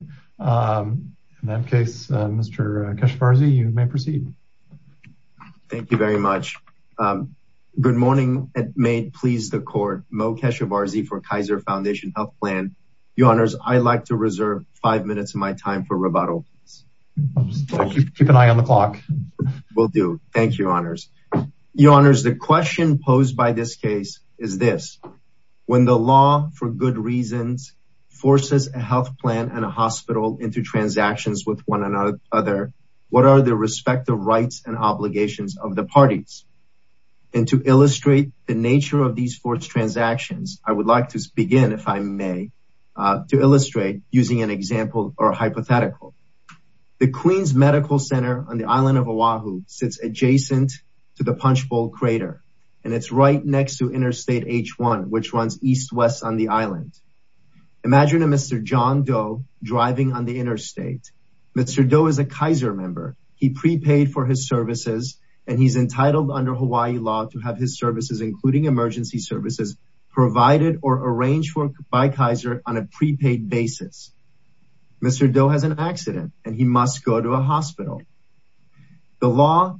In that case, Mr. Keshevarzy, you may proceed. Thank you very much. Good morning and may it please the Court. Mo Keshevarzy for Kaiser Foundation Health Plan. Your Honors, I'd like to reserve five minutes of my time for rebuttal. Keep an eye on the clock. Will do. Thank you, Your Honors. Your Honors, the question posed by this case is this. When the law, for good reasons, forces a health hospital into transactions with one another, what are the respective rights and obligations of the parties? And to illustrate the nature of these forced transactions, I would like to begin, if I may, to illustrate using an example or hypothetical. The Queen's Medical Center on the island of Oahu sits adjacent to the Punchbowl Crater, and it's right next to Interstate H1, which runs east-west on the island. Imagine a Mr. John Doe driving on the interstate. Mr. Doe is a Kaiser member. He prepaid for his services, and he's entitled under Hawaii law to have his services, including emergency services, provided or arranged by Kaiser on a prepaid basis. Mr. Doe has an accident, and he must go to a hospital. The law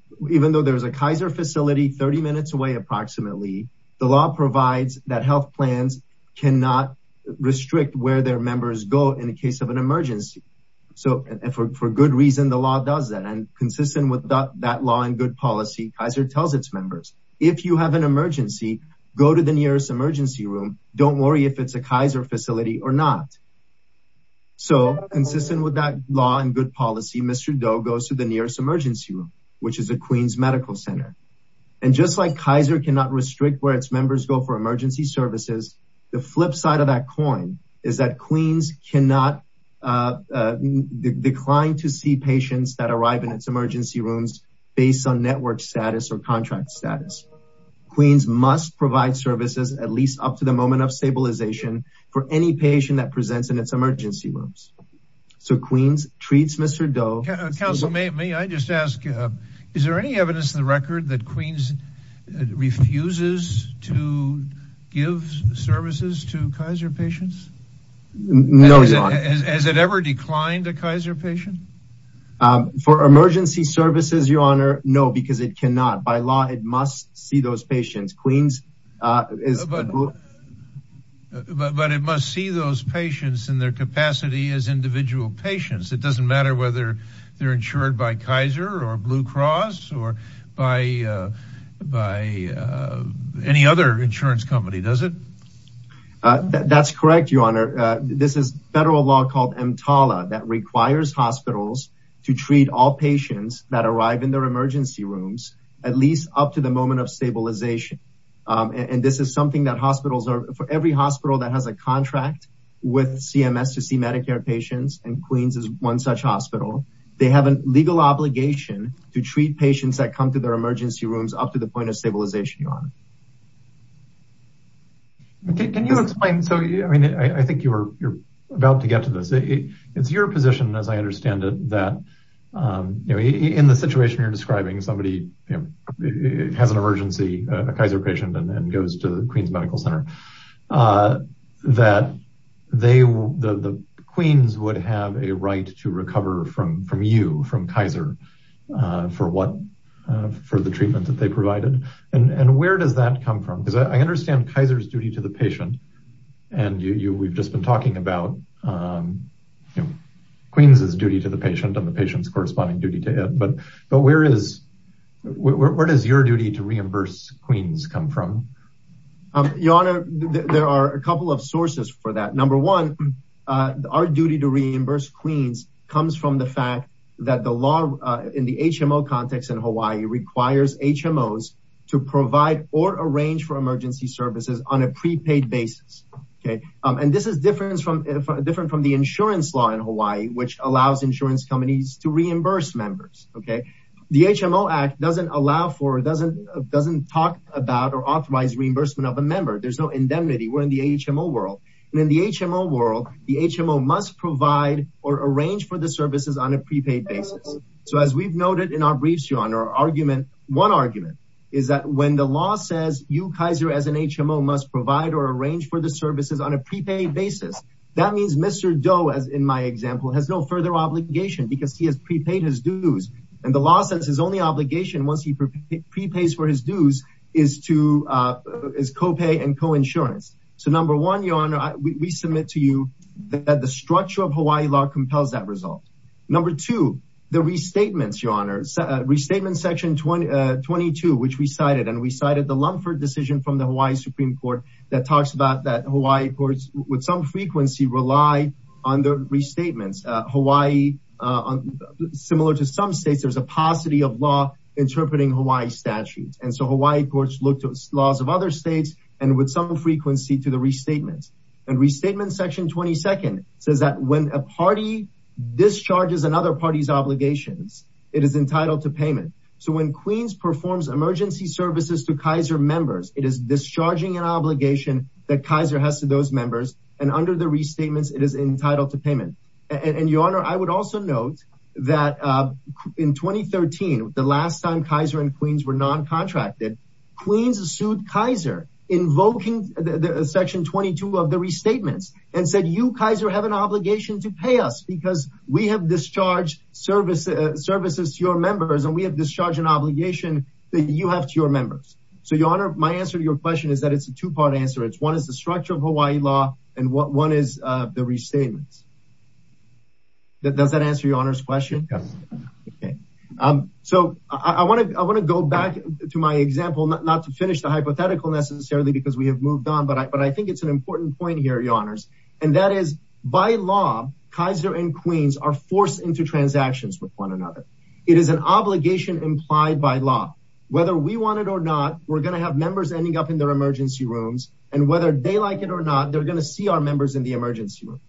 provides that health plans cannot restrict where their members go in the case of an emergency. For good reason, the law does that, and consistent with that law and good policy, Kaiser tells its members, if you have an emergency, go to the nearest emergency room. Don't worry if it's a Kaiser facility or not. So consistent with that law and good policy, Mr. Doe goes to the nearest emergency room, which is the Queen's Medical Center. And just like Kaiser cannot restrict where its members go for emergency services, the flip side of that coin is that Queen's cannot decline to see patients that arrive in its emergency rooms based on network status or contract status. Queen's must provide services, at least up to the moment of stabilization, for any patient that presents in its emergency rooms. So Queen's treats Mr. Doe. Counsel, may I just ask, is there any evidence in the record that Queen's refuses to give services to Kaiser patients? No, Your Honor. Has it ever declined a Kaiser patient? For emergency services, Your Honor, no, because it cannot. By law, it must see those patients. Queen's is... But it must see those patients in their capacity as individual patients. It doesn't matter whether they're insured by Kaiser or Blue Cross or by any other insurance company, does it? That's correct, Your Honor. This is federal law called EMTALA that requires hospitals to treat all patients that arrive in their emergency rooms, at least up to the moment of stabilization. And this is something that hospitals are... For every hospital that has a contract with CMS to see Medicare patients, and Queen's is one such hospital, they have a legal obligation to treat patients that come to their emergency rooms up to the point of stabilization, Your Honor. Can you explain... So I think you're about to get to this. It's your position, as I understand it, that in the situation you're describing, somebody has an emergency, a Kaiser patient, and goes to the Queen's Medical Center, that the Queen's would have a right to recover from you, from Kaiser, for the treatment that they provided. And where does that come from? Because I understand Kaiser's duty to the patient. And we've just been talking about Queen's' duty to the patient and the patient's corresponding duty to it. But where is... Where does your duty to reimburse Queen's come from? Your Honor, there are a couple of sources for that. Number one, our duty to reimburse Queen's comes from the fact that the law in the HMO context in Hawaii requires HMOs to provide or arrange for emergency services on a prepaid basis. And this is different from the insurance law in Hawaii, which allows insurance companies to reimburse members. The HMO Act doesn't allow for, doesn't talk about or authorize reimbursement of a member. There's no indemnity. We're in the HMO world. And in the HMO world, the HMO must provide or arrange for the services on a prepaid basis. So as we've noted in our briefs, Your Honor, our argument, one argument, is that when the law says you, Kaiser, as an HMO must provide or arrange for the services on a prepaid basis, that means Mr. Doe, as in my example, has no further obligation because he has prepaid his dues. And the law says his only obligation once he prepays for his dues is to, is co-pay and co-insurance. So number one, Your Honor, we submit to you that the structure of Hawaii law compels that result. Number two, the restatements, Your Honor, restatement section 22, which we cited, and we cited the Lumford decision from the Hawaii Supreme Court that talks about that Hawaii courts with some frequency rely on the restatements. Hawaii, similar to some states, there's a paucity of law interpreting Hawaii statutes. And so Hawaii courts look to laws of other states and with some frequency to the restatements. And restatement section 22 says that when a party discharges another party's obligations, it is entitled to payment. So when Queens performs emergency services to it is discharging an obligation that Kaiser has to those members and under the restatements, it is entitled to payment. And Your Honor, I would also note that in 2013, the last time Kaiser and Queens were non-contracted, Queens sued Kaiser invoking section 22 of the restatements and said, you Kaiser have an obligation to pay us because we have discharged services to your members. So Your Honor, my answer to your question is that it's a two-part answer. It's one is the structure of Hawaii law and one is the restatements. Does that answer Your Honor's question? Yes. Okay. So I want to go back to my example, not to finish the hypothetical necessarily because we have moved on, but I think it's an important point here, Your Honors, and that is by law, Kaiser and Queens are forced into transactions with one another. It is an We're going to have members ending up in their emergency rooms and whether they like it or not, they're going to see our members in the emergency rooms.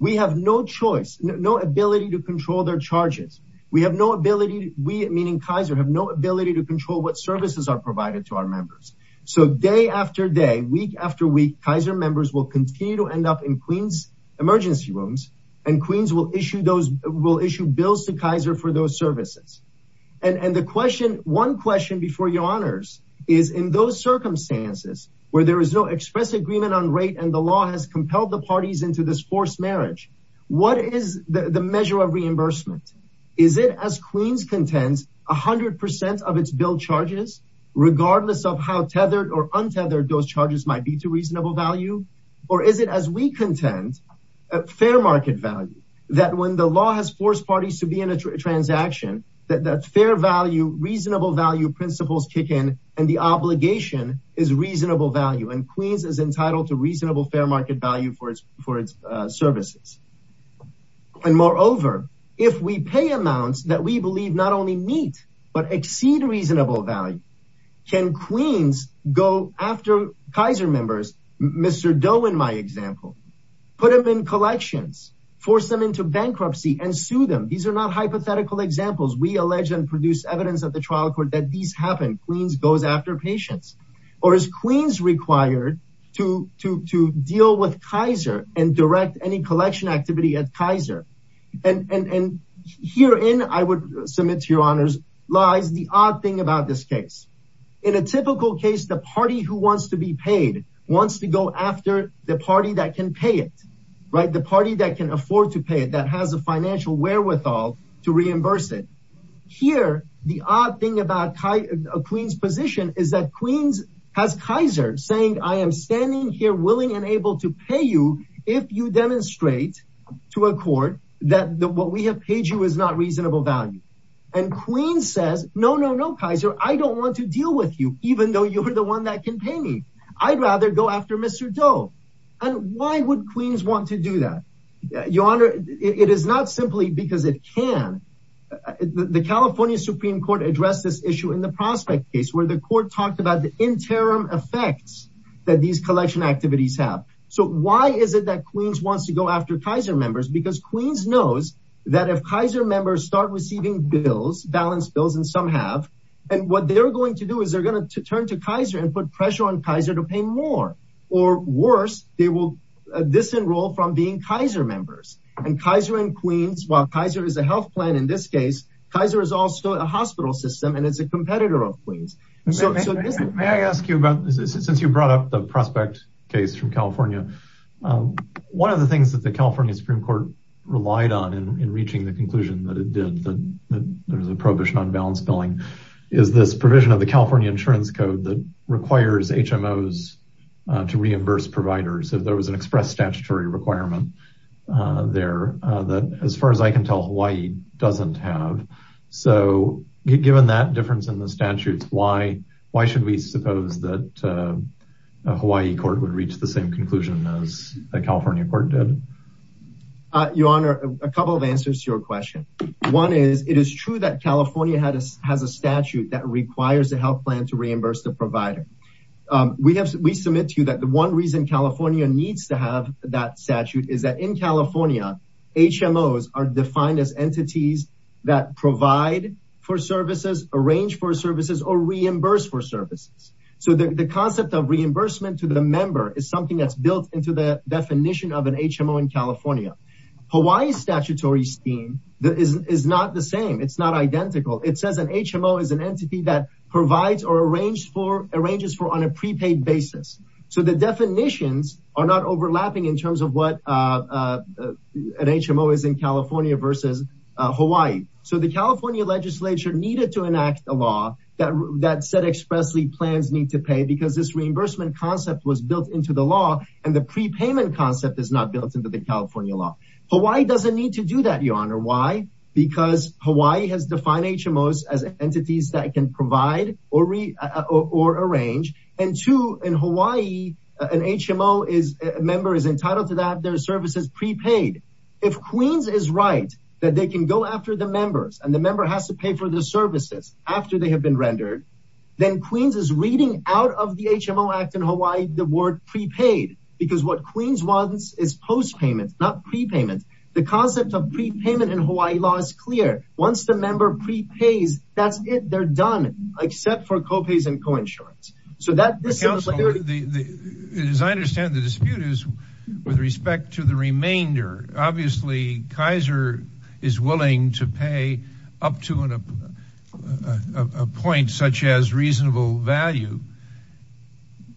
We have no choice, no ability to control their charges. We have no ability. We, meaning Kaiser, have no ability to control what services are provided to our members. So day after day, week after week, Kaiser members will continue to end up in Queens emergency rooms and Queens will issue bills to Kaiser for those services. And the question, one question before Your Honors, is in those circumstances where there is no express agreement on rate and the law has compelled the parties into this forced marriage, what is the measure of reimbursement? Is it as Queens contends, 100% of its bill charges, regardless of how tethered or untethered those charges might be to reasonable value? Or is it as we contend, fair market value, that when the law has forced parties to be in a transaction, that fair value, reasonable value principles kick in and the obligation is reasonable value and Queens is entitled to reasonable fair market value for its services. And moreover, if we pay amounts that we believe not only meet but exceed reasonable value, can Queens go after Kaiser members, Mr. Doe in my example, put them in collections, force them into bankruptcy and sue them? These are not hypothetical examples. We allege and produce evidence at the trial court that these happen. Queens goes after patients. Or is Queens required to deal with Kaiser and direct any collection activity at Kaiser? And herein, I would submit to Your Honors, lies the odd thing about this case. In a typical case, the party who wants to be paid wants to go after the party that can pay it, the party that can afford to pay it, that has a financial wherewithal to reimburse it. Here, the odd thing about Queens' position is that Queens has Kaiser saying, I am standing here willing and able to pay you if you demonstrate to a court that what we have paid you is not reasonable value. And Queens says, no, no, no, Kaiser, I don't want to deal with you, even though you're the one that can pay me. I'd rather go after Mr. Doe. And why would Queens want to do that? Your Honor, it is not simply because it can. The California Supreme Court addressed this issue in the prospect case where the court talked about the interim effects that these collection activities have. So why is it that Queens wants to go after Kaiser members? Because Queens knows that if Kaiser members start receiving bills, balanced bills, and some have, and what they're going to do is they're going to turn to Kaiser and put pressure on Kaiser to pay more. Or worse, they will disenroll from being Kaiser members. And Kaiser and Queens, while Kaiser is a health plan in this case, Kaiser is also a hospital system and it's a competitor of Queens. May I ask you about, since you brought up the prospect case from California, one of the things that the California Supreme Court relied on in reaching the conclusion that it did, that there's a prohibition on balanced billing, is this provision of the California insurance code that requires HMOs to reimburse providers, if there was an express statutory requirement there, that as far as I can tell, Hawaii doesn't have. So given that difference in the statutes, why should we suppose that a Hawaii court would reach the same conclusion as a California court did? Your Honor, a couple of answers to your question. One is, it is true that to reimburse the provider. We submit to you that the one reason California needs to have that statute is that in California, HMOs are defined as entities that provide for services, arrange for services, or reimburse for services. So the concept of reimbursement to the member is something that's built into the definition of an HMO in California. Hawaii's statutory scheme is not the same. It's not identical. It says an HMO is an entity that provides or arranges for on a prepaid basis. So the definitions are not overlapping in terms of what an HMO is in California versus Hawaii. So the California legislature needed to enact a law that said expressly plans need to pay because this reimbursement concept was built into the law, and the prepayment concept is not built into the California law. Hawaii doesn't need to do that, because Hawaii has defined HMOs as entities that can provide or arrange. And two, in Hawaii, an HMO member is entitled to have their services prepaid. If Queens is right, that they can go after the members, and the member has to pay for the services after they have been rendered, then Queens is reading out of the HMO Act in Hawaii, the word prepaid, because what Queens is post-payment, not prepayment. The concept of prepayment in Hawaii law is clear. Once the member prepays, that's it. They're done, except for co-pays and coinsurance. So that... As I understand the dispute is with respect to the remainder. Obviously, Kaiser is willing to pay up to a point such as reasonable value,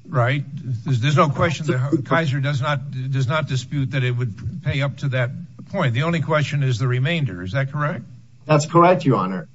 right? There's no question that Kaiser does not dispute that it would pay up to that point. The only question is the remainder. Is that correct? That's correct, your honor.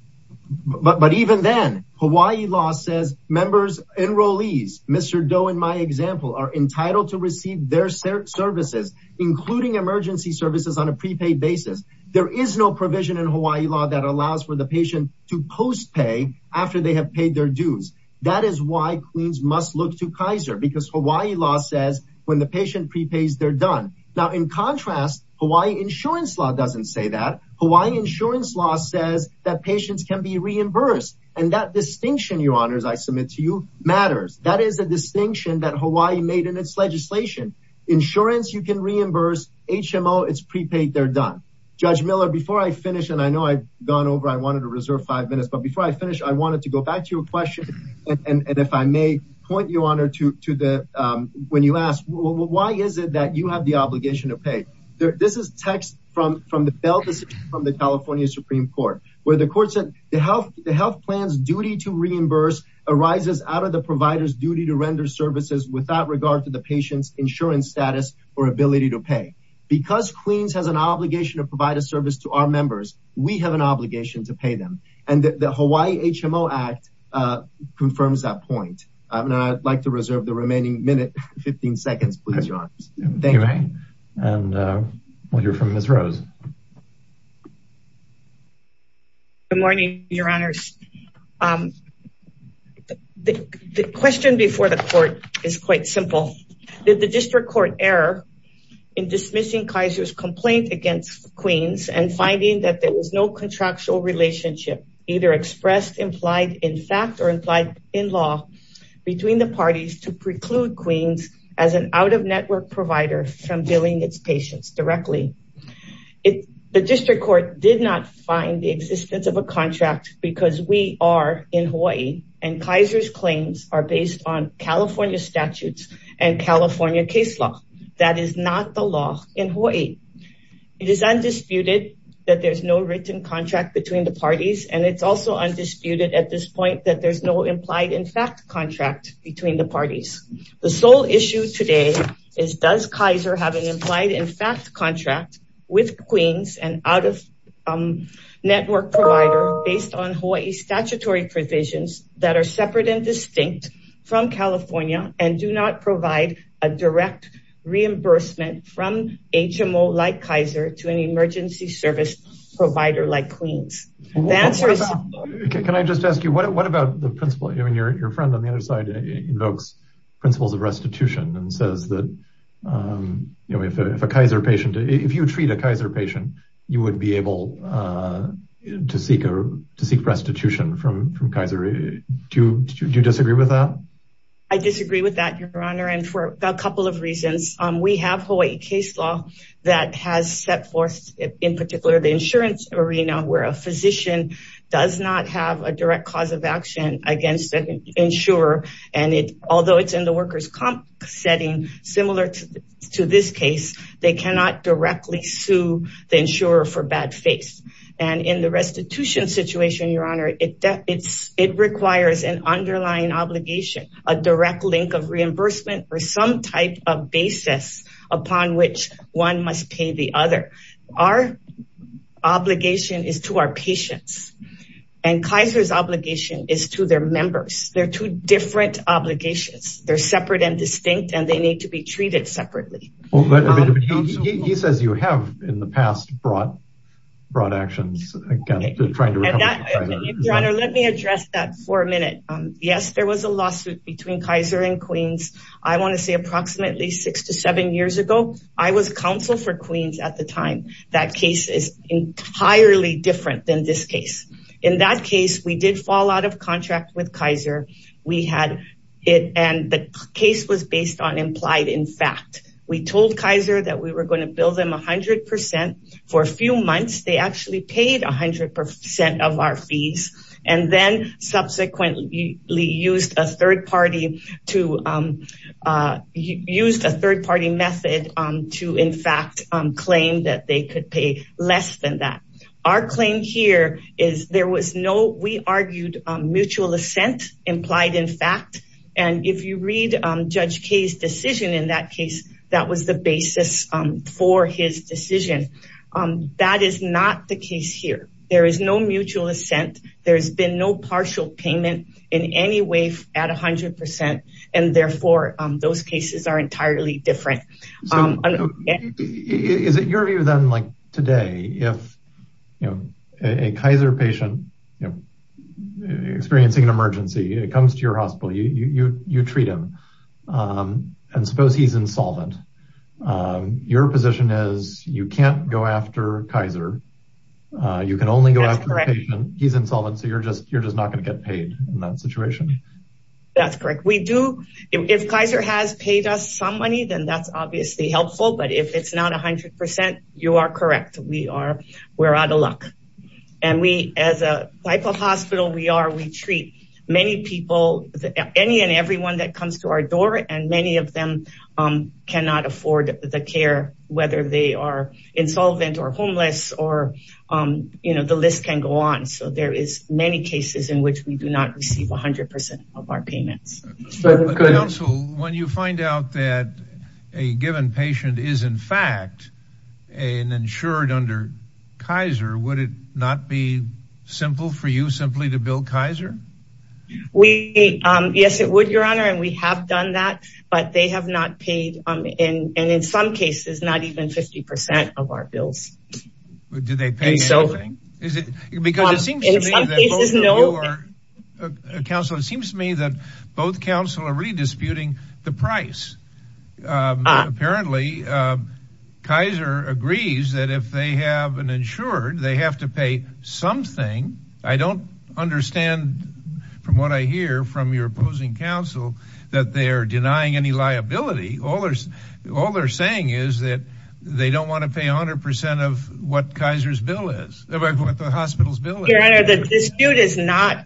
But even then, Hawaii law says members, enrollees, Mr. Doe in my example, are entitled to receive their services, including emergency services on a prepaid basis. There is no provision in Hawaii law that allows for the patient to post-pay after they have paid their dues. That is why Queens must look to Kaiser, because Hawaii law says when the patient prepays, they're done. Now, in contrast, Hawaii insurance law doesn't say that. Hawaii insurance law says that patients can be reimbursed. And that distinction, your honors, I submit to you, matters. That is a distinction that Hawaii made in its legislation. Insurance, you can reimburse. HMO, it's prepaid, they're done. Judge Miller, before I finish, and I know I've gone over, I wanted to reserve five minutes. But before I finish, I wanted to go back to your question. And if I may point you, your honor, when you ask, why is it that you have the obligation to pay? This is text from the California Supreme Court, where the court said, the health plan's duty to reimburse arises out of the provider's duty to render services without regard to the patient's status or ability to pay. Because Queens has an obligation to provide a service to our members, we have an obligation to pay them. And the Hawaii HMO Act confirms that point. And I'd like to reserve the remaining minute, 15 seconds, please, your honors. Thank you. And we'll hear from Ms. Rose. Good morning, your honors. The question before the court is quite simple. The district court error in dismissing Kaiser's complaint against Queens and finding that there was no contractual relationship, either expressed, implied, in fact, or implied in law between the parties to preclude Queens as an out-of-network provider from billing its patients directly. The district court did not find the existence of a contract because we are in Hawaii and Kaiser's and California case law. That is not the law in Hawaii. It is undisputed that there's no written contract between the parties. And it's also undisputed at this point that there's no implied in fact contract between the parties. The sole issue today is does Kaiser have an implied in fact contract with Queens and out-of-network provider based on Hawaii statutory provisions that are separate and distinct from California and do not provide a direct reimbursement from HMO like Kaiser to an emergency service provider like Queens. Can I just ask you, what about the principle, your friend on the other side invokes principles of restitution and says that if a Kaiser patient, if you treat a Kaiser patient, you would be able to seek restitution from Kaiser. Do you disagree with that? I disagree with that, your honor, and for a couple of reasons. We have Hawaii case law that has set forth, in particular, the insurance arena where a physician does not have a direct cause of action against an insurer. And although it's in the workers' comp setting, similar to this case, they cannot directly sue the insurer for bad faith. And in the restitution situation, your honor, it requires an underlying obligation, a direct link of reimbursement or some type of basis upon which one must pay the other. Our obligation is to our patients. And Kaiser's obligation is to their members. They're two different obligations. They're separate and treated separately. He says you have in the past brought actions against trying to recover. Your honor, let me address that for a minute. Yes, there was a lawsuit between Kaiser and Queens. I want to say approximately six to seven years ago, I was counsel for Queens at the time. That case is entirely different than this case. In that case, we did fall out of contract with Kaiser. We had it, and the case was based on implied in fact. We told Kaiser that we were going to bill them 100% for a few months. They actually paid 100% of our fees and then subsequently used a third party method to, in fact, claim that they could pay less than that. Our claim here is there was no, we argued mutual assent implied in fact. And if you read Judge K's decision in that case, that was the basis for his decision. That is not the case here. There is no mutual assent. There's been no partial payment in any way at 100%. And therefore, those cases are entirely different. Is it your view then like today, if a Kaiser patient experiencing an emergency, it comes to your hospital, you treat him, and suppose he's insolvent. Your position is you can't go after Kaiser. You can only go after a patient, he's insolvent, so you're just not going to get paid in that situation? That's correct. We do, if Kaiser has paid us some money, then that's obviously helpful. But if it's not 100%, you are correct. We are out of luck. And we as a type of hospital we are, we treat many people, any and everyone that comes to our door, and many of them cannot afford the care, whether they are insolvent or homeless or, you know, the list can go on. So there are many cases in which we do not receive 100% of our payments. When you find out that a given patient is, in fact, insured under Kaiser, would it not be simple for you simply to bill Kaiser? Yes, it would, Your Honor, and we have done that. But they have not paid, and in some cases, not even 50% of our bills. Did they pay anything? Because it seems to me that both counsel are really disputing the price. Apparently, Kaiser agrees that if they have an insured, they have to pay something. I don't understand, from what I hear from your opposing counsel, that they are denying any liability. All they're saying is that they don't want to pay 100% of what the hospital's bill is. Your Honor, the dispute is not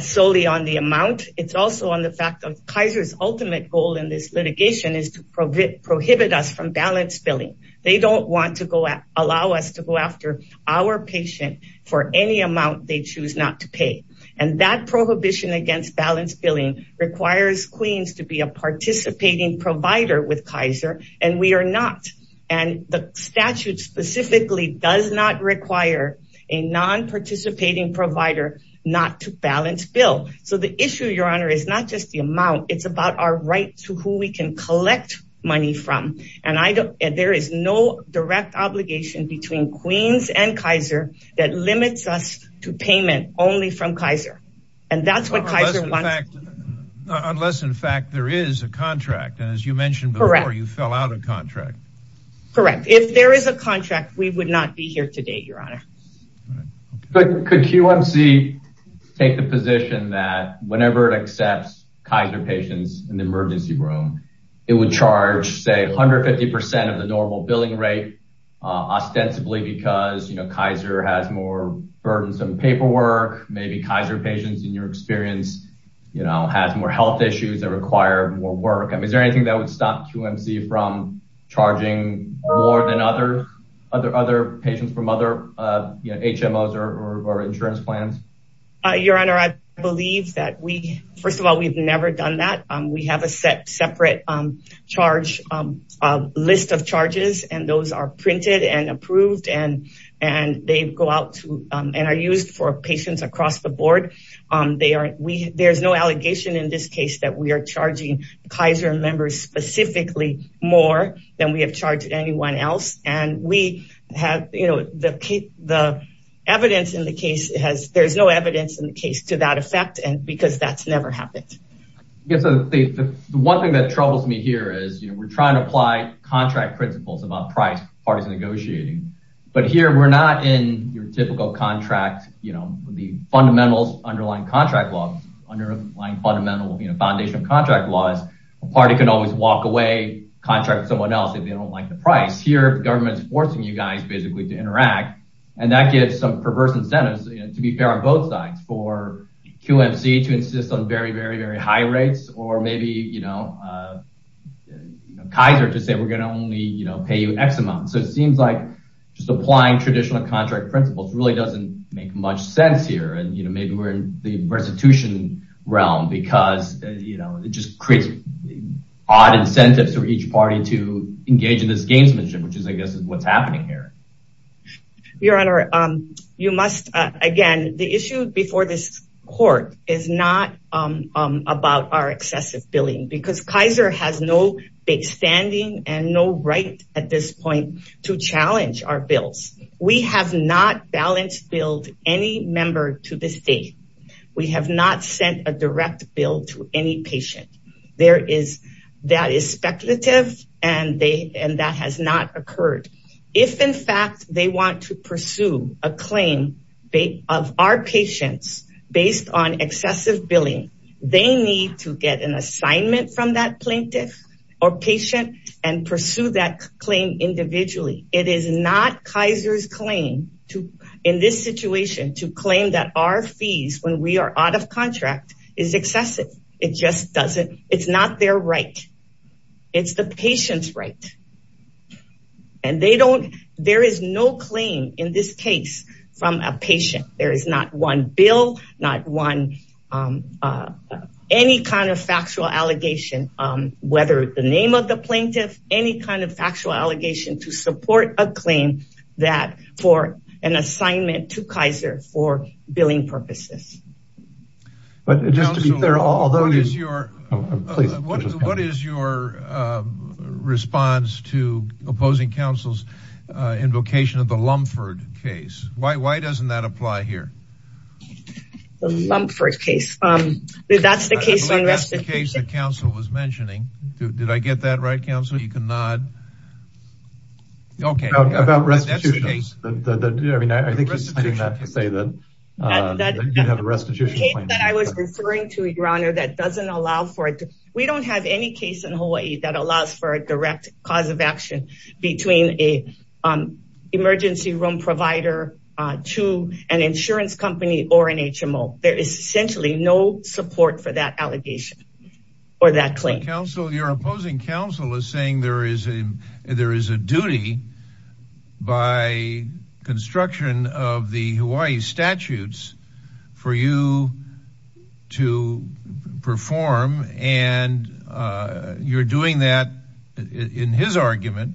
solely on the amount. It's also on the fact that Kaiser's ultimate goal in this litigation is to prohibit us from balance billing. They don't want to allow us to go after our patient for any amount they choose not to pay. And that prohibition against balance billing requires Queens to be a participating provider with Kaiser, and we are not. And the statute specifically does not require a non-participating provider not to balance bill. So the issue, Your Honor, is not just the amount. It's about our right to who we can collect money from. And there is no direct obligation between Queens and Kaiser that limits us to what Kaiser wants. Unless, in fact, there is a contract. And as you mentioned before, you fell out of contract. Correct. If there is a contract, we would not be here today, Your Honor. Could QMC take the position that whenever it accepts Kaiser patients in the emergency room, it would charge, say, 150% of the normal billing rate, ostensibly because, you know, Kaiser has more burdensome paperwork. Maybe Kaiser patients, in your experience, you know, has more health issues that require more work. Is there anything that would stop QMC from charging more than other patients from other HMOs or insurance plans? Your Honor, I believe that we, first of all, we've never done that. We have a separate charge list of charges, and those are printed and approved, and they go out and are used for patients across the board. There's no allegation in this case that we are charging Kaiser members specifically more than we have charged anyone else. And we have, you know, the evidence in the case has, there's no evidence in the case to that effect because that's never happened. Yes, the one thing that troubles me here is, you know, we're trying to apply contract principles about price for parties negotiating, but here we're not in your typical contract, you know, with the fundamentals underlying contract laws, underlying fundamental, you know, foundation of contract laws. A party can always walk away, contract someone else if they don't like the price. Here, the government's forcing you guys basically to interact, and that gives some perverse incentives, you know, to be fair on both sides, for QMC to Kaiser to say we're going to only, you know, pay you X amount. So, it seems like just applying traditional contract principles really doesn't make much sense here, and, you know, maybe we're in the restitution realm because, you know, it just creates odd incentives for each party to engage in this gamesmanship, which is, I guess, what's happening here. Your honor, you must, again, the issue before this court is not about our excessive billing because Kaiser has no big standing and no right at this point to challenge our bills. We have not balanced billed any member to the state. We have not sent a direct bill to any patient. There is, that is speculative, and that has not occurred. If, in fact, they want to pursue a claim of our patients based on excessive billing, they need to get an assignment from that plaintiff or patient and pursue that claim individually. It is not Kaiser's claim to, in this situation, to claim that our fees, when we are out of contract, is excessive. It just doesn't. It's not their right. It's the patient's right, and they don't, there is no claim in this case from a patient. There is not one bill, not one, any kind of factual allegation, whether the name of the plaintiff, any kind of factual allegation to support a claim that for an assignment to Kaiser for your response to opposing counsel's invocation of the Lumphord case. Why doesn't that apply here? The Lumphord case. That's the case on restitution. That's the case the counsel was mentioning. Did I get that right, counsel? You can nod. Okay. About restitution. I think he's saying that to say that you have a restitution claim. The case that I was referring to, that doesn't allow for it. We don't have any case in Hawaii that allows for a direct cause of action between an emergency room provider to an insurance company or an HMO. There is essentially no support for that allegation or that claim. Your opposing counsel is saying there is a duty by construction of the Hawaii statutes for you to perform, and you're doing that in his argument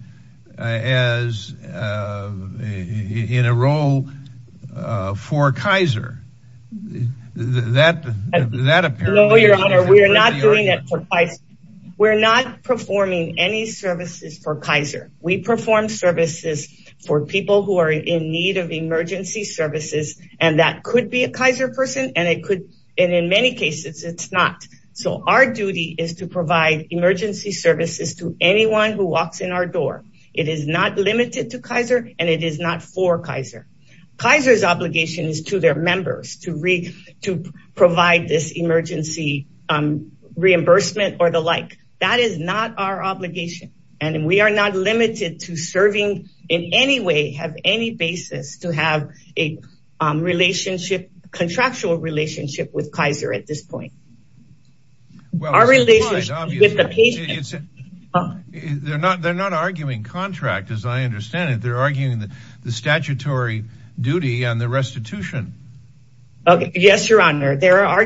as in a role for Kaiser. That, that appears. No, your honor, we are not doing any services for Kaiser. We perform services for people who are in need of emergency services, and that could be a Kaiser person, and it could, and in many cases, it's not. So our duty is to provide emergency services to anyone who walks in our door. It is not limited to Kaiser, and it is not for Kaiser. Kaiser's obligation is to their members to read, to provide this emergency reimbursement or the like. That is not our obligation, and we are not limited to serving in any way, have any basis to have a relationship, contractual relationship with Kaiser at this point. Our relationship with the patient. They're not, they're not arguing contract as I understand it. They're arguing the statutory duty on the restitution. Okay, yes, your honor. They're an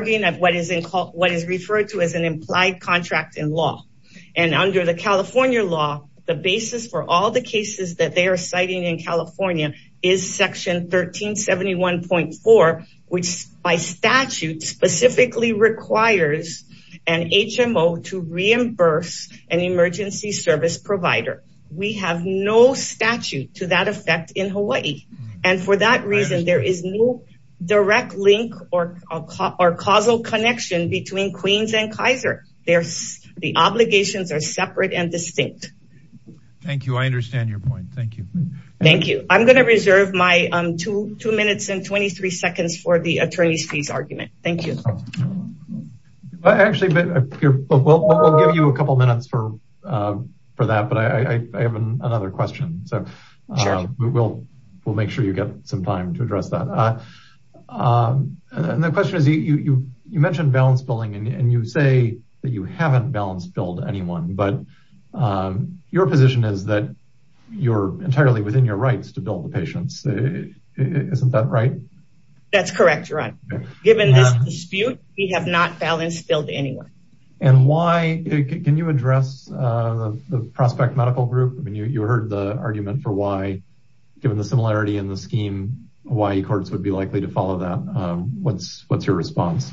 implied contract in law, and under the California law, the basis for all the cases that they are citing in California is section 1371.4, which by statute specifically requires an HMO to reimburse an emergency service provider. We have no statute to that effect in Hawaii, and for that reason, there is no direct link or causal connection between Queens and Kaiser. The obligations are separate and distinct. Thank you. I understand your point. Thank you. Thank you. I'm going to reserve my two minutes and 23 seconds for the attorney's fees argument. Thank you. Actually, we'll give you a couple minutes for that, but I have another question, so we'll make sure you get some time to address that. And the question is, you mentioned balance billing, and you say that you haven't balanced billed anyone, but your position is that you're entirely within your rights to bill the patients. Isn't that right? That's correct, your honor. Given this dispute, we have not balanced billed anyone. And why, can you address the prospect group? You heard the argument for why, given the similarity in the scheme, Hawaii courts would be likely to follow that. What's your response?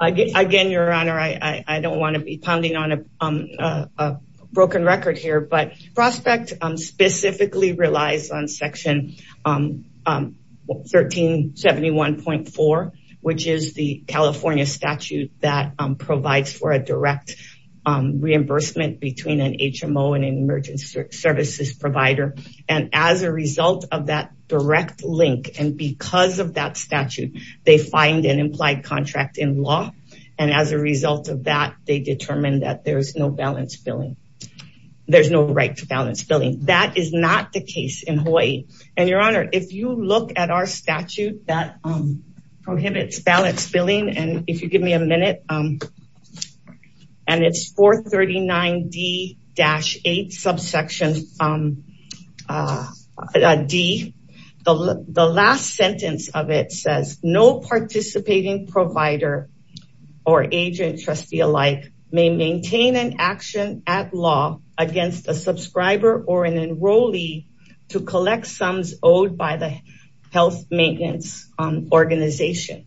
Again, your honor, I don't want to be pounding on a broken record here, but prospect specifically relies on section 1371.4, which is the California statute that provides for a direct reimbursement between an HMO and an emergency services provider. And as a result of that direct link, and because of that statute, they find an implied contract in law. And as a result of that, they determine that there's no balance billing. There's no right to balance billing. That is not the case in Hawaii. And your honor, if you look at our statute that prohibits balance billing, and if you give me a minute, and it's 439D-8 subsection D, the last sentence of it says, no participating provider or agent trustee alike may maintain an action at law against a subscriber or an enrollee to collect sums owed by the health maintenance organization.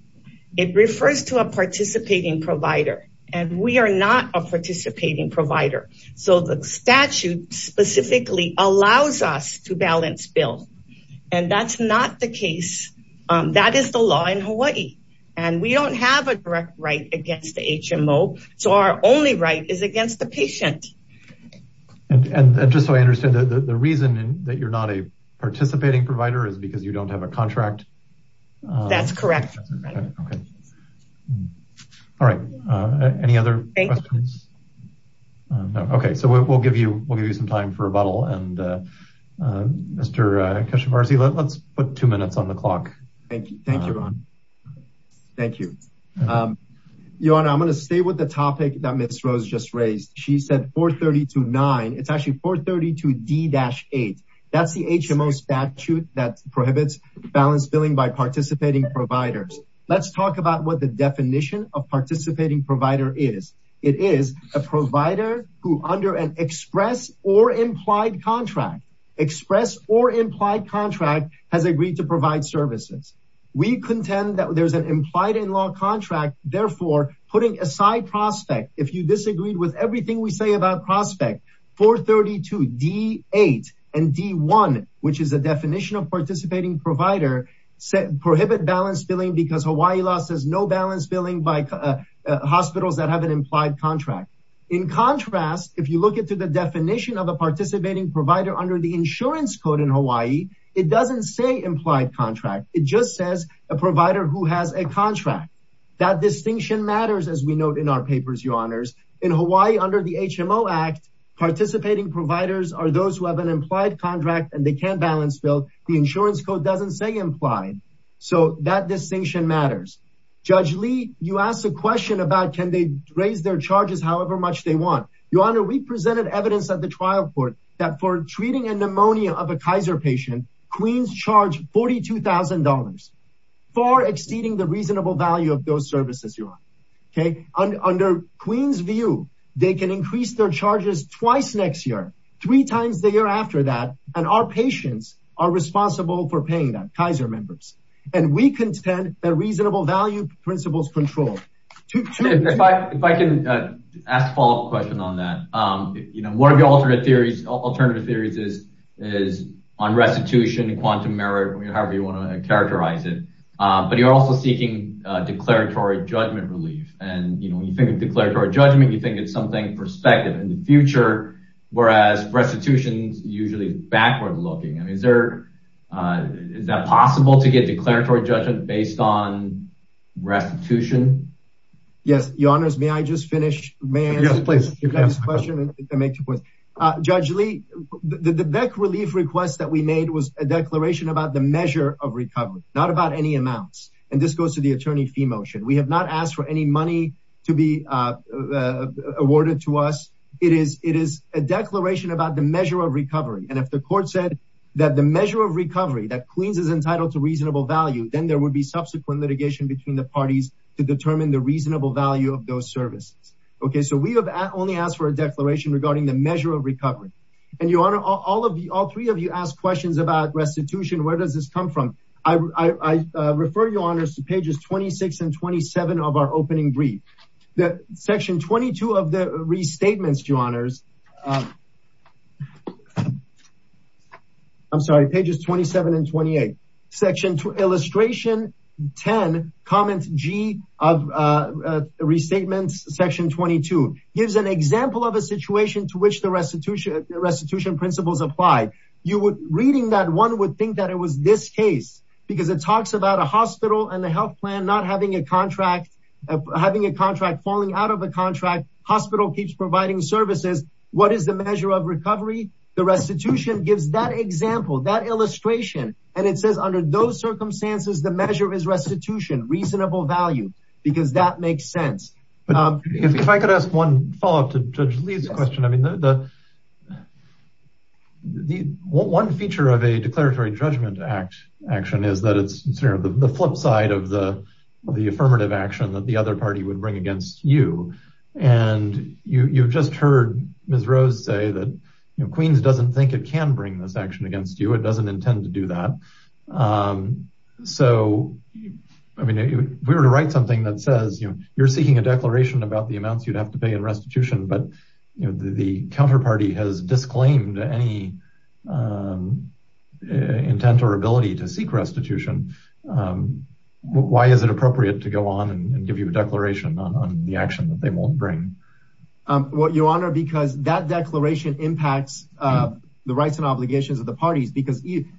It refers to a participating provider, and we are not a participating provider. So the statute specifically allows us to balance bill. And that's not the case. That is the law in Hawaii. And we don't have a direct right against the HMO. So our only right is against the patient. And just so I understand the reason that you're not a participating provider is because you don't have a contract. That's correct. Okay. All right. Any other questions? Okay. So we'll give you, we'll give you some time for rebuttal and Mr. Keshavarzi, let's put two minutes on the clock. Thank you. Thank you, Ron. Thank you. Your honor, I'm going to stay with the topic that Ms. Rose just raised. She said 432-9. It's actually 432-D-8. That's the HMO statute that prohibits balanced billing by participating providers. Let's talk about what the definition of participating provider is. It is a provider who under an express or implied contract, express or implied contract has agreed to provide services. We contend that there's an implied in putting aside prospect. If you disagreed with everything we say about prospect 432-D-8 and D-1, which is a definition of participating provider set prohibit balanced billing because Hawaii law says no balanced billing by hospitals that have an implied contract. In contrast, if you look into the definition of a participating provider under the insurance code in Hawaii, it doesn't say implied contract. It just says a provider who has a contract. That distinction matters, as we note in our papers, your honors. In Hawaii under the HMO Act, participating providers are those who have an implied contract and they can't balance bill. The insurance code doesn't say implied. So that distinction matters. Judge Lee, you asked a question about can they raise their charges however much they want. Your honor, we presented evidence at the trial court that for charge $42,000, far exceeding the reasonable value of those services, your honor. Under Queen's view, they can increase their charges twice next year, three times the year after that, and our patients are responsible for paying them, Kaiser members. And we contend that reasonable value principles control. If I can ask a follow-up question on that. One of the alternative theories is on restitution and quantum merit, however you want to characterize it. But you're also seeking declaratory judgment relief. And when you think of declaratory judgment, you think it's something perspective in the future, whereas restitution is usually backward looking. Is that possible to get declaratory judgment based on restitution? Yes, your honors, may I just finish? Judge Lee, the Beck relief request that we made was a declaration about the measure of recovery, not about any amounts. And this goes to the attorney fee motion. We have not asked for any money to be awarded to us. It is a declaration about the measure of recovery. And if the court said that the measure of recovery that Queen's is entitled to reasonable value, then there would be subsequent litigation between the parties to determine the reasonable value of those services. Okay, so we have only asked for a declaration regarding the measure of recovery. And your honor, all three of you asked questions about restitution. Where does this come from? I refer your honors to pages 26 and 27 of our opening brief. Section 22 of the restatements, your honors. I'm sorry, pages 27 and 28, section illustration 10 comments G of restatements section 22 gives an example of a situation to which the restitution restitution principles apply. You would reading that one would think that it was this case because it talks about a hospital and the health plan, not having a contract, having a contract falling out of the contract. Hospital keeps providing services. What is the measure of recovery? The restitution gives that example, that illustration. And it says under those circumstances, the measure is restitution, reasonable value, because that makes sense. If I could ask one follow up to judge Lee's question, I mean, the one feature of a declaratory judgment act action is that it's the flip side of the affirmative action that the other party would bring against you. And you've just heard Ms. Rose say that Queens doesn't think it can bring this action against you. It doesn't intend to do that. So, I mean, if we were to write something that says you're seeking a declaration about the amounts you'd have to pay in restitution, but the counterparty has disclaimed any intent or ability to seek restitution. Why is it appropriate to go on and bring? Well, your honor, because that declaration impacts the rights and obligations of the parties.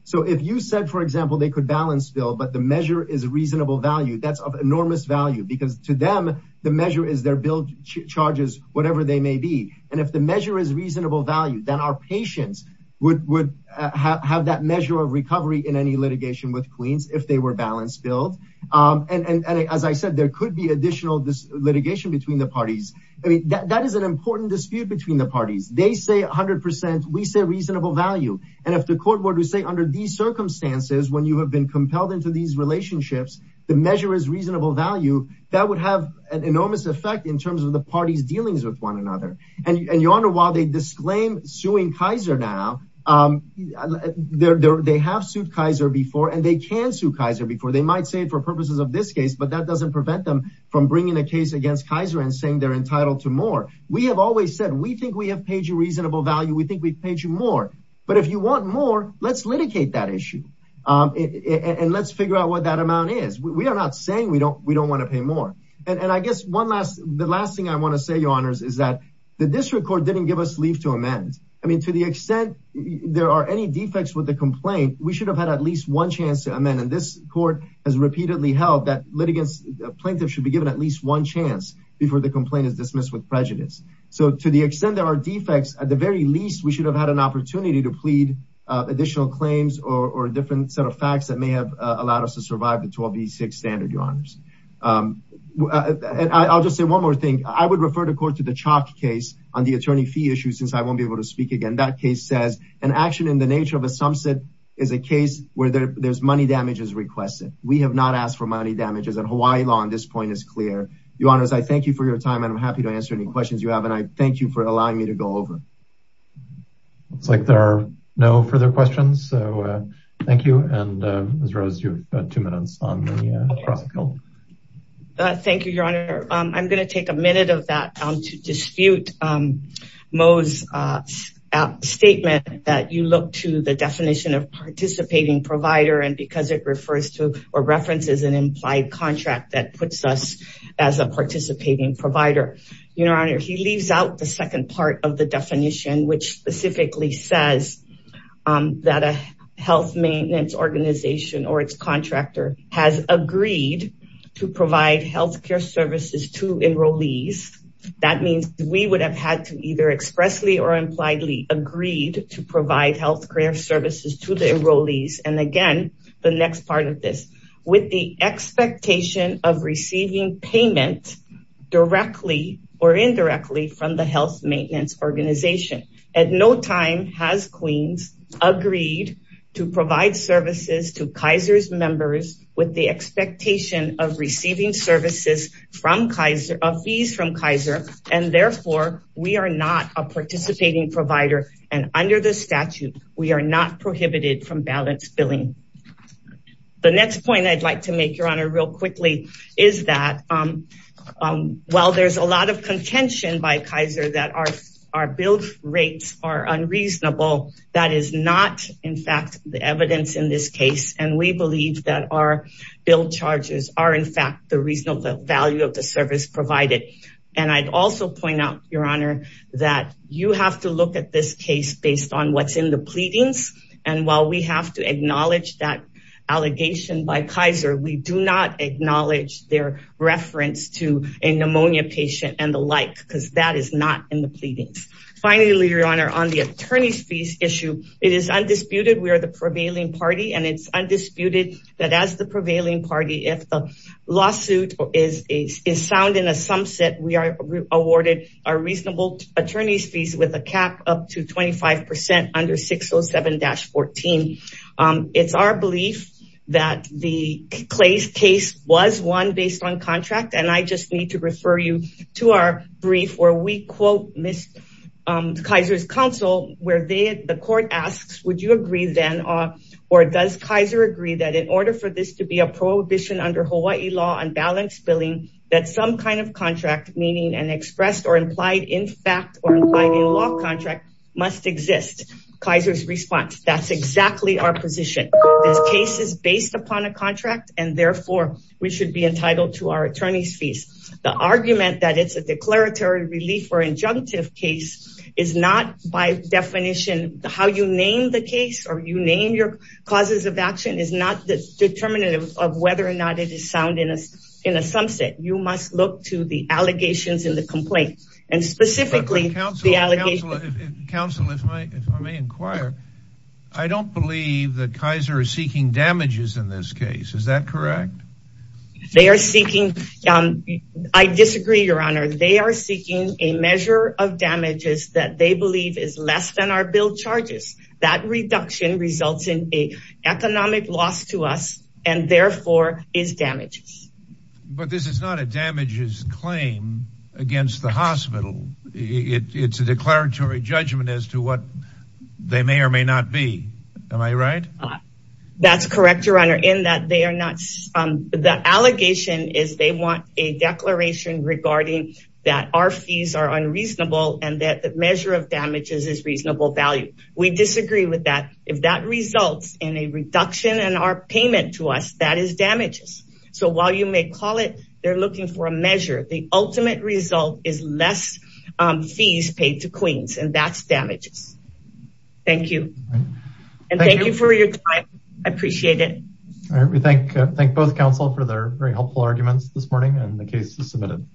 So if you said, for example, they could balance bill, but the measure is reasonable value, that's of enormous value because to them, the measure is their bill charges, whatever they may be. And if the measure is reasonable value, then our patients would have that measure of recovery in any litigation with Queens if they were balanced billed. And as I said, there could be additional litigation between the parties. I mean, that is an important dispute between the parties. They say a hundred percent, we say reasonable value. And if the court were to say under these circumstances, when you have been compelled into these relationships, the measure is reasonable value, that would have an enormous effect in terms of the party's dealings with one another. And your honor, while they disclaim suing Kaiser now, they have sued Kaiser before, and they can sue Kaiser before. They might say it for purposes of this case, but that doesn't prevent them from bringing a case against Kaiser and saying they're entitled to more. We have always said, we think we have paid you reasonable value. We think we've paid you more, but if you want more, let's litigate that issue. And let's figure out what that amount is. We are not saying we don't want to pay more. And I guess the last thing I want to say, your honors, is that the district court didn't give us leave to amend. I mean, to the extent there are any defects with the complaint, we should have had at least one chance to amend. And this court has repeatedly held that litigants, plaintiffs should be given at least one chance before the complaint is dismissed with prejudice. So to the extent there are defects, at the very least, we should have had an opportunity to plead additional claims or a different set of facts that may have allowed us to survive the 1286 standard, your honors. And I'll just say one more thing. I would refer the court to the chalk case on the attorney fee issue, since I won't be able to speak again. That case says an action in the nature of a sumsit is a case where there's money damages requested. We have not asked for money damages. And Hawaii law on this point is clear. Your honors, I thank you for your time, and I'm happy to answer any questions you have. And I thank you for allowing me to go over. Looks like there are no further questions. So thank you. And Ms. Rose, you've got two minutes on the cross call. Thank you, your honor. I'm going to take a minute of that to dispute Mo's statement that you look to the definition of participating provider and because or references an implied contract that puts us as a participating provider. Your honor, he leaves out the second part of the definition, which specifically says that a health maintenance organization or its contractor has agreed to provide health care services to enrollees. That means we would have had to either expressly or impliedly agreed to provide health care services to the enrollees. And again, the next part of this with the expectation of receiving payment directly or indirectly from the health maintenance organization. At no time has Queens agreed to provide services to Kaiser's members with the expectation of receiving services from Kaiser of fees from Kaiser. And therefore, we are not a participating provider. And under the statute, we are not prohibited from balance billing. The next point I'd like to make your honor real quickly is that while there's a lot of contention by Kaiser that our our bill rates are unreasonable, that is not in fact, the evidence in this case. And we believe that our bill charges are in fact, the reason of the value of the service provided. And I'd also point out your honor, that you have to look at this case based on what's in the pleadings. And while we have to acknowledge that allegation by Kaiser, we do not acknowledge their reference to a pneumonia patient and the like, because that is not in the pleadings. Finally, your honor on the attorney's fees issue, it is undisputed we are the prevailing party and it's undisputed that as the prevailing party if the up to 25% under 607-14. It's our belief that the Clay's case was one based on contract and I just need to refer you to our brief where we quote miss Kaiser's counsel where they the court asks, would you agree then or does Kaiser agree that in order for this to be a prohibition under Hawaii law and balance billing, that some kind of contract meaning and expressed or implied in fact, or law contract must exist. Kaiser's response, that's exactly our position. This case is based upon a contract and therefore, we should be entitled to our attorney's fees. The argument that it's a declaratory relief or injunctive case is not by definition, how you name the case or you name your causes of action is not the determinative of whether or not it is sound in us in a sunset, you must look to the allegations in the complaint and specifically the allegations. Counsel if I may inquire, I don't believe that Kaiser is seeking damages in this case, is that correct? They are seeking, I disagree your honor, they are seeking a measure of damages that they believe is less than our bill charges. That reduction results in a economic loss to us and therefore is damages. But this is not a damages claim against the hospital, it's a declaratory judgment as to what they may or may not be, am I right? That's correct, your honor, in that they are not, the allegation is they want a declaration regarding that our fees are unreasonable and that the measure of damages is reasonable value. We disagree with if that results in a reduction in our payment to us, that is damages. So while you may call it, they're looking for a measure, the ultimate result is less fees paid to Queens and that's damages. Thank you and thank you for your time, I appreciate it. We thank both counsel for their very helpful arguments this morning and the case is submitted.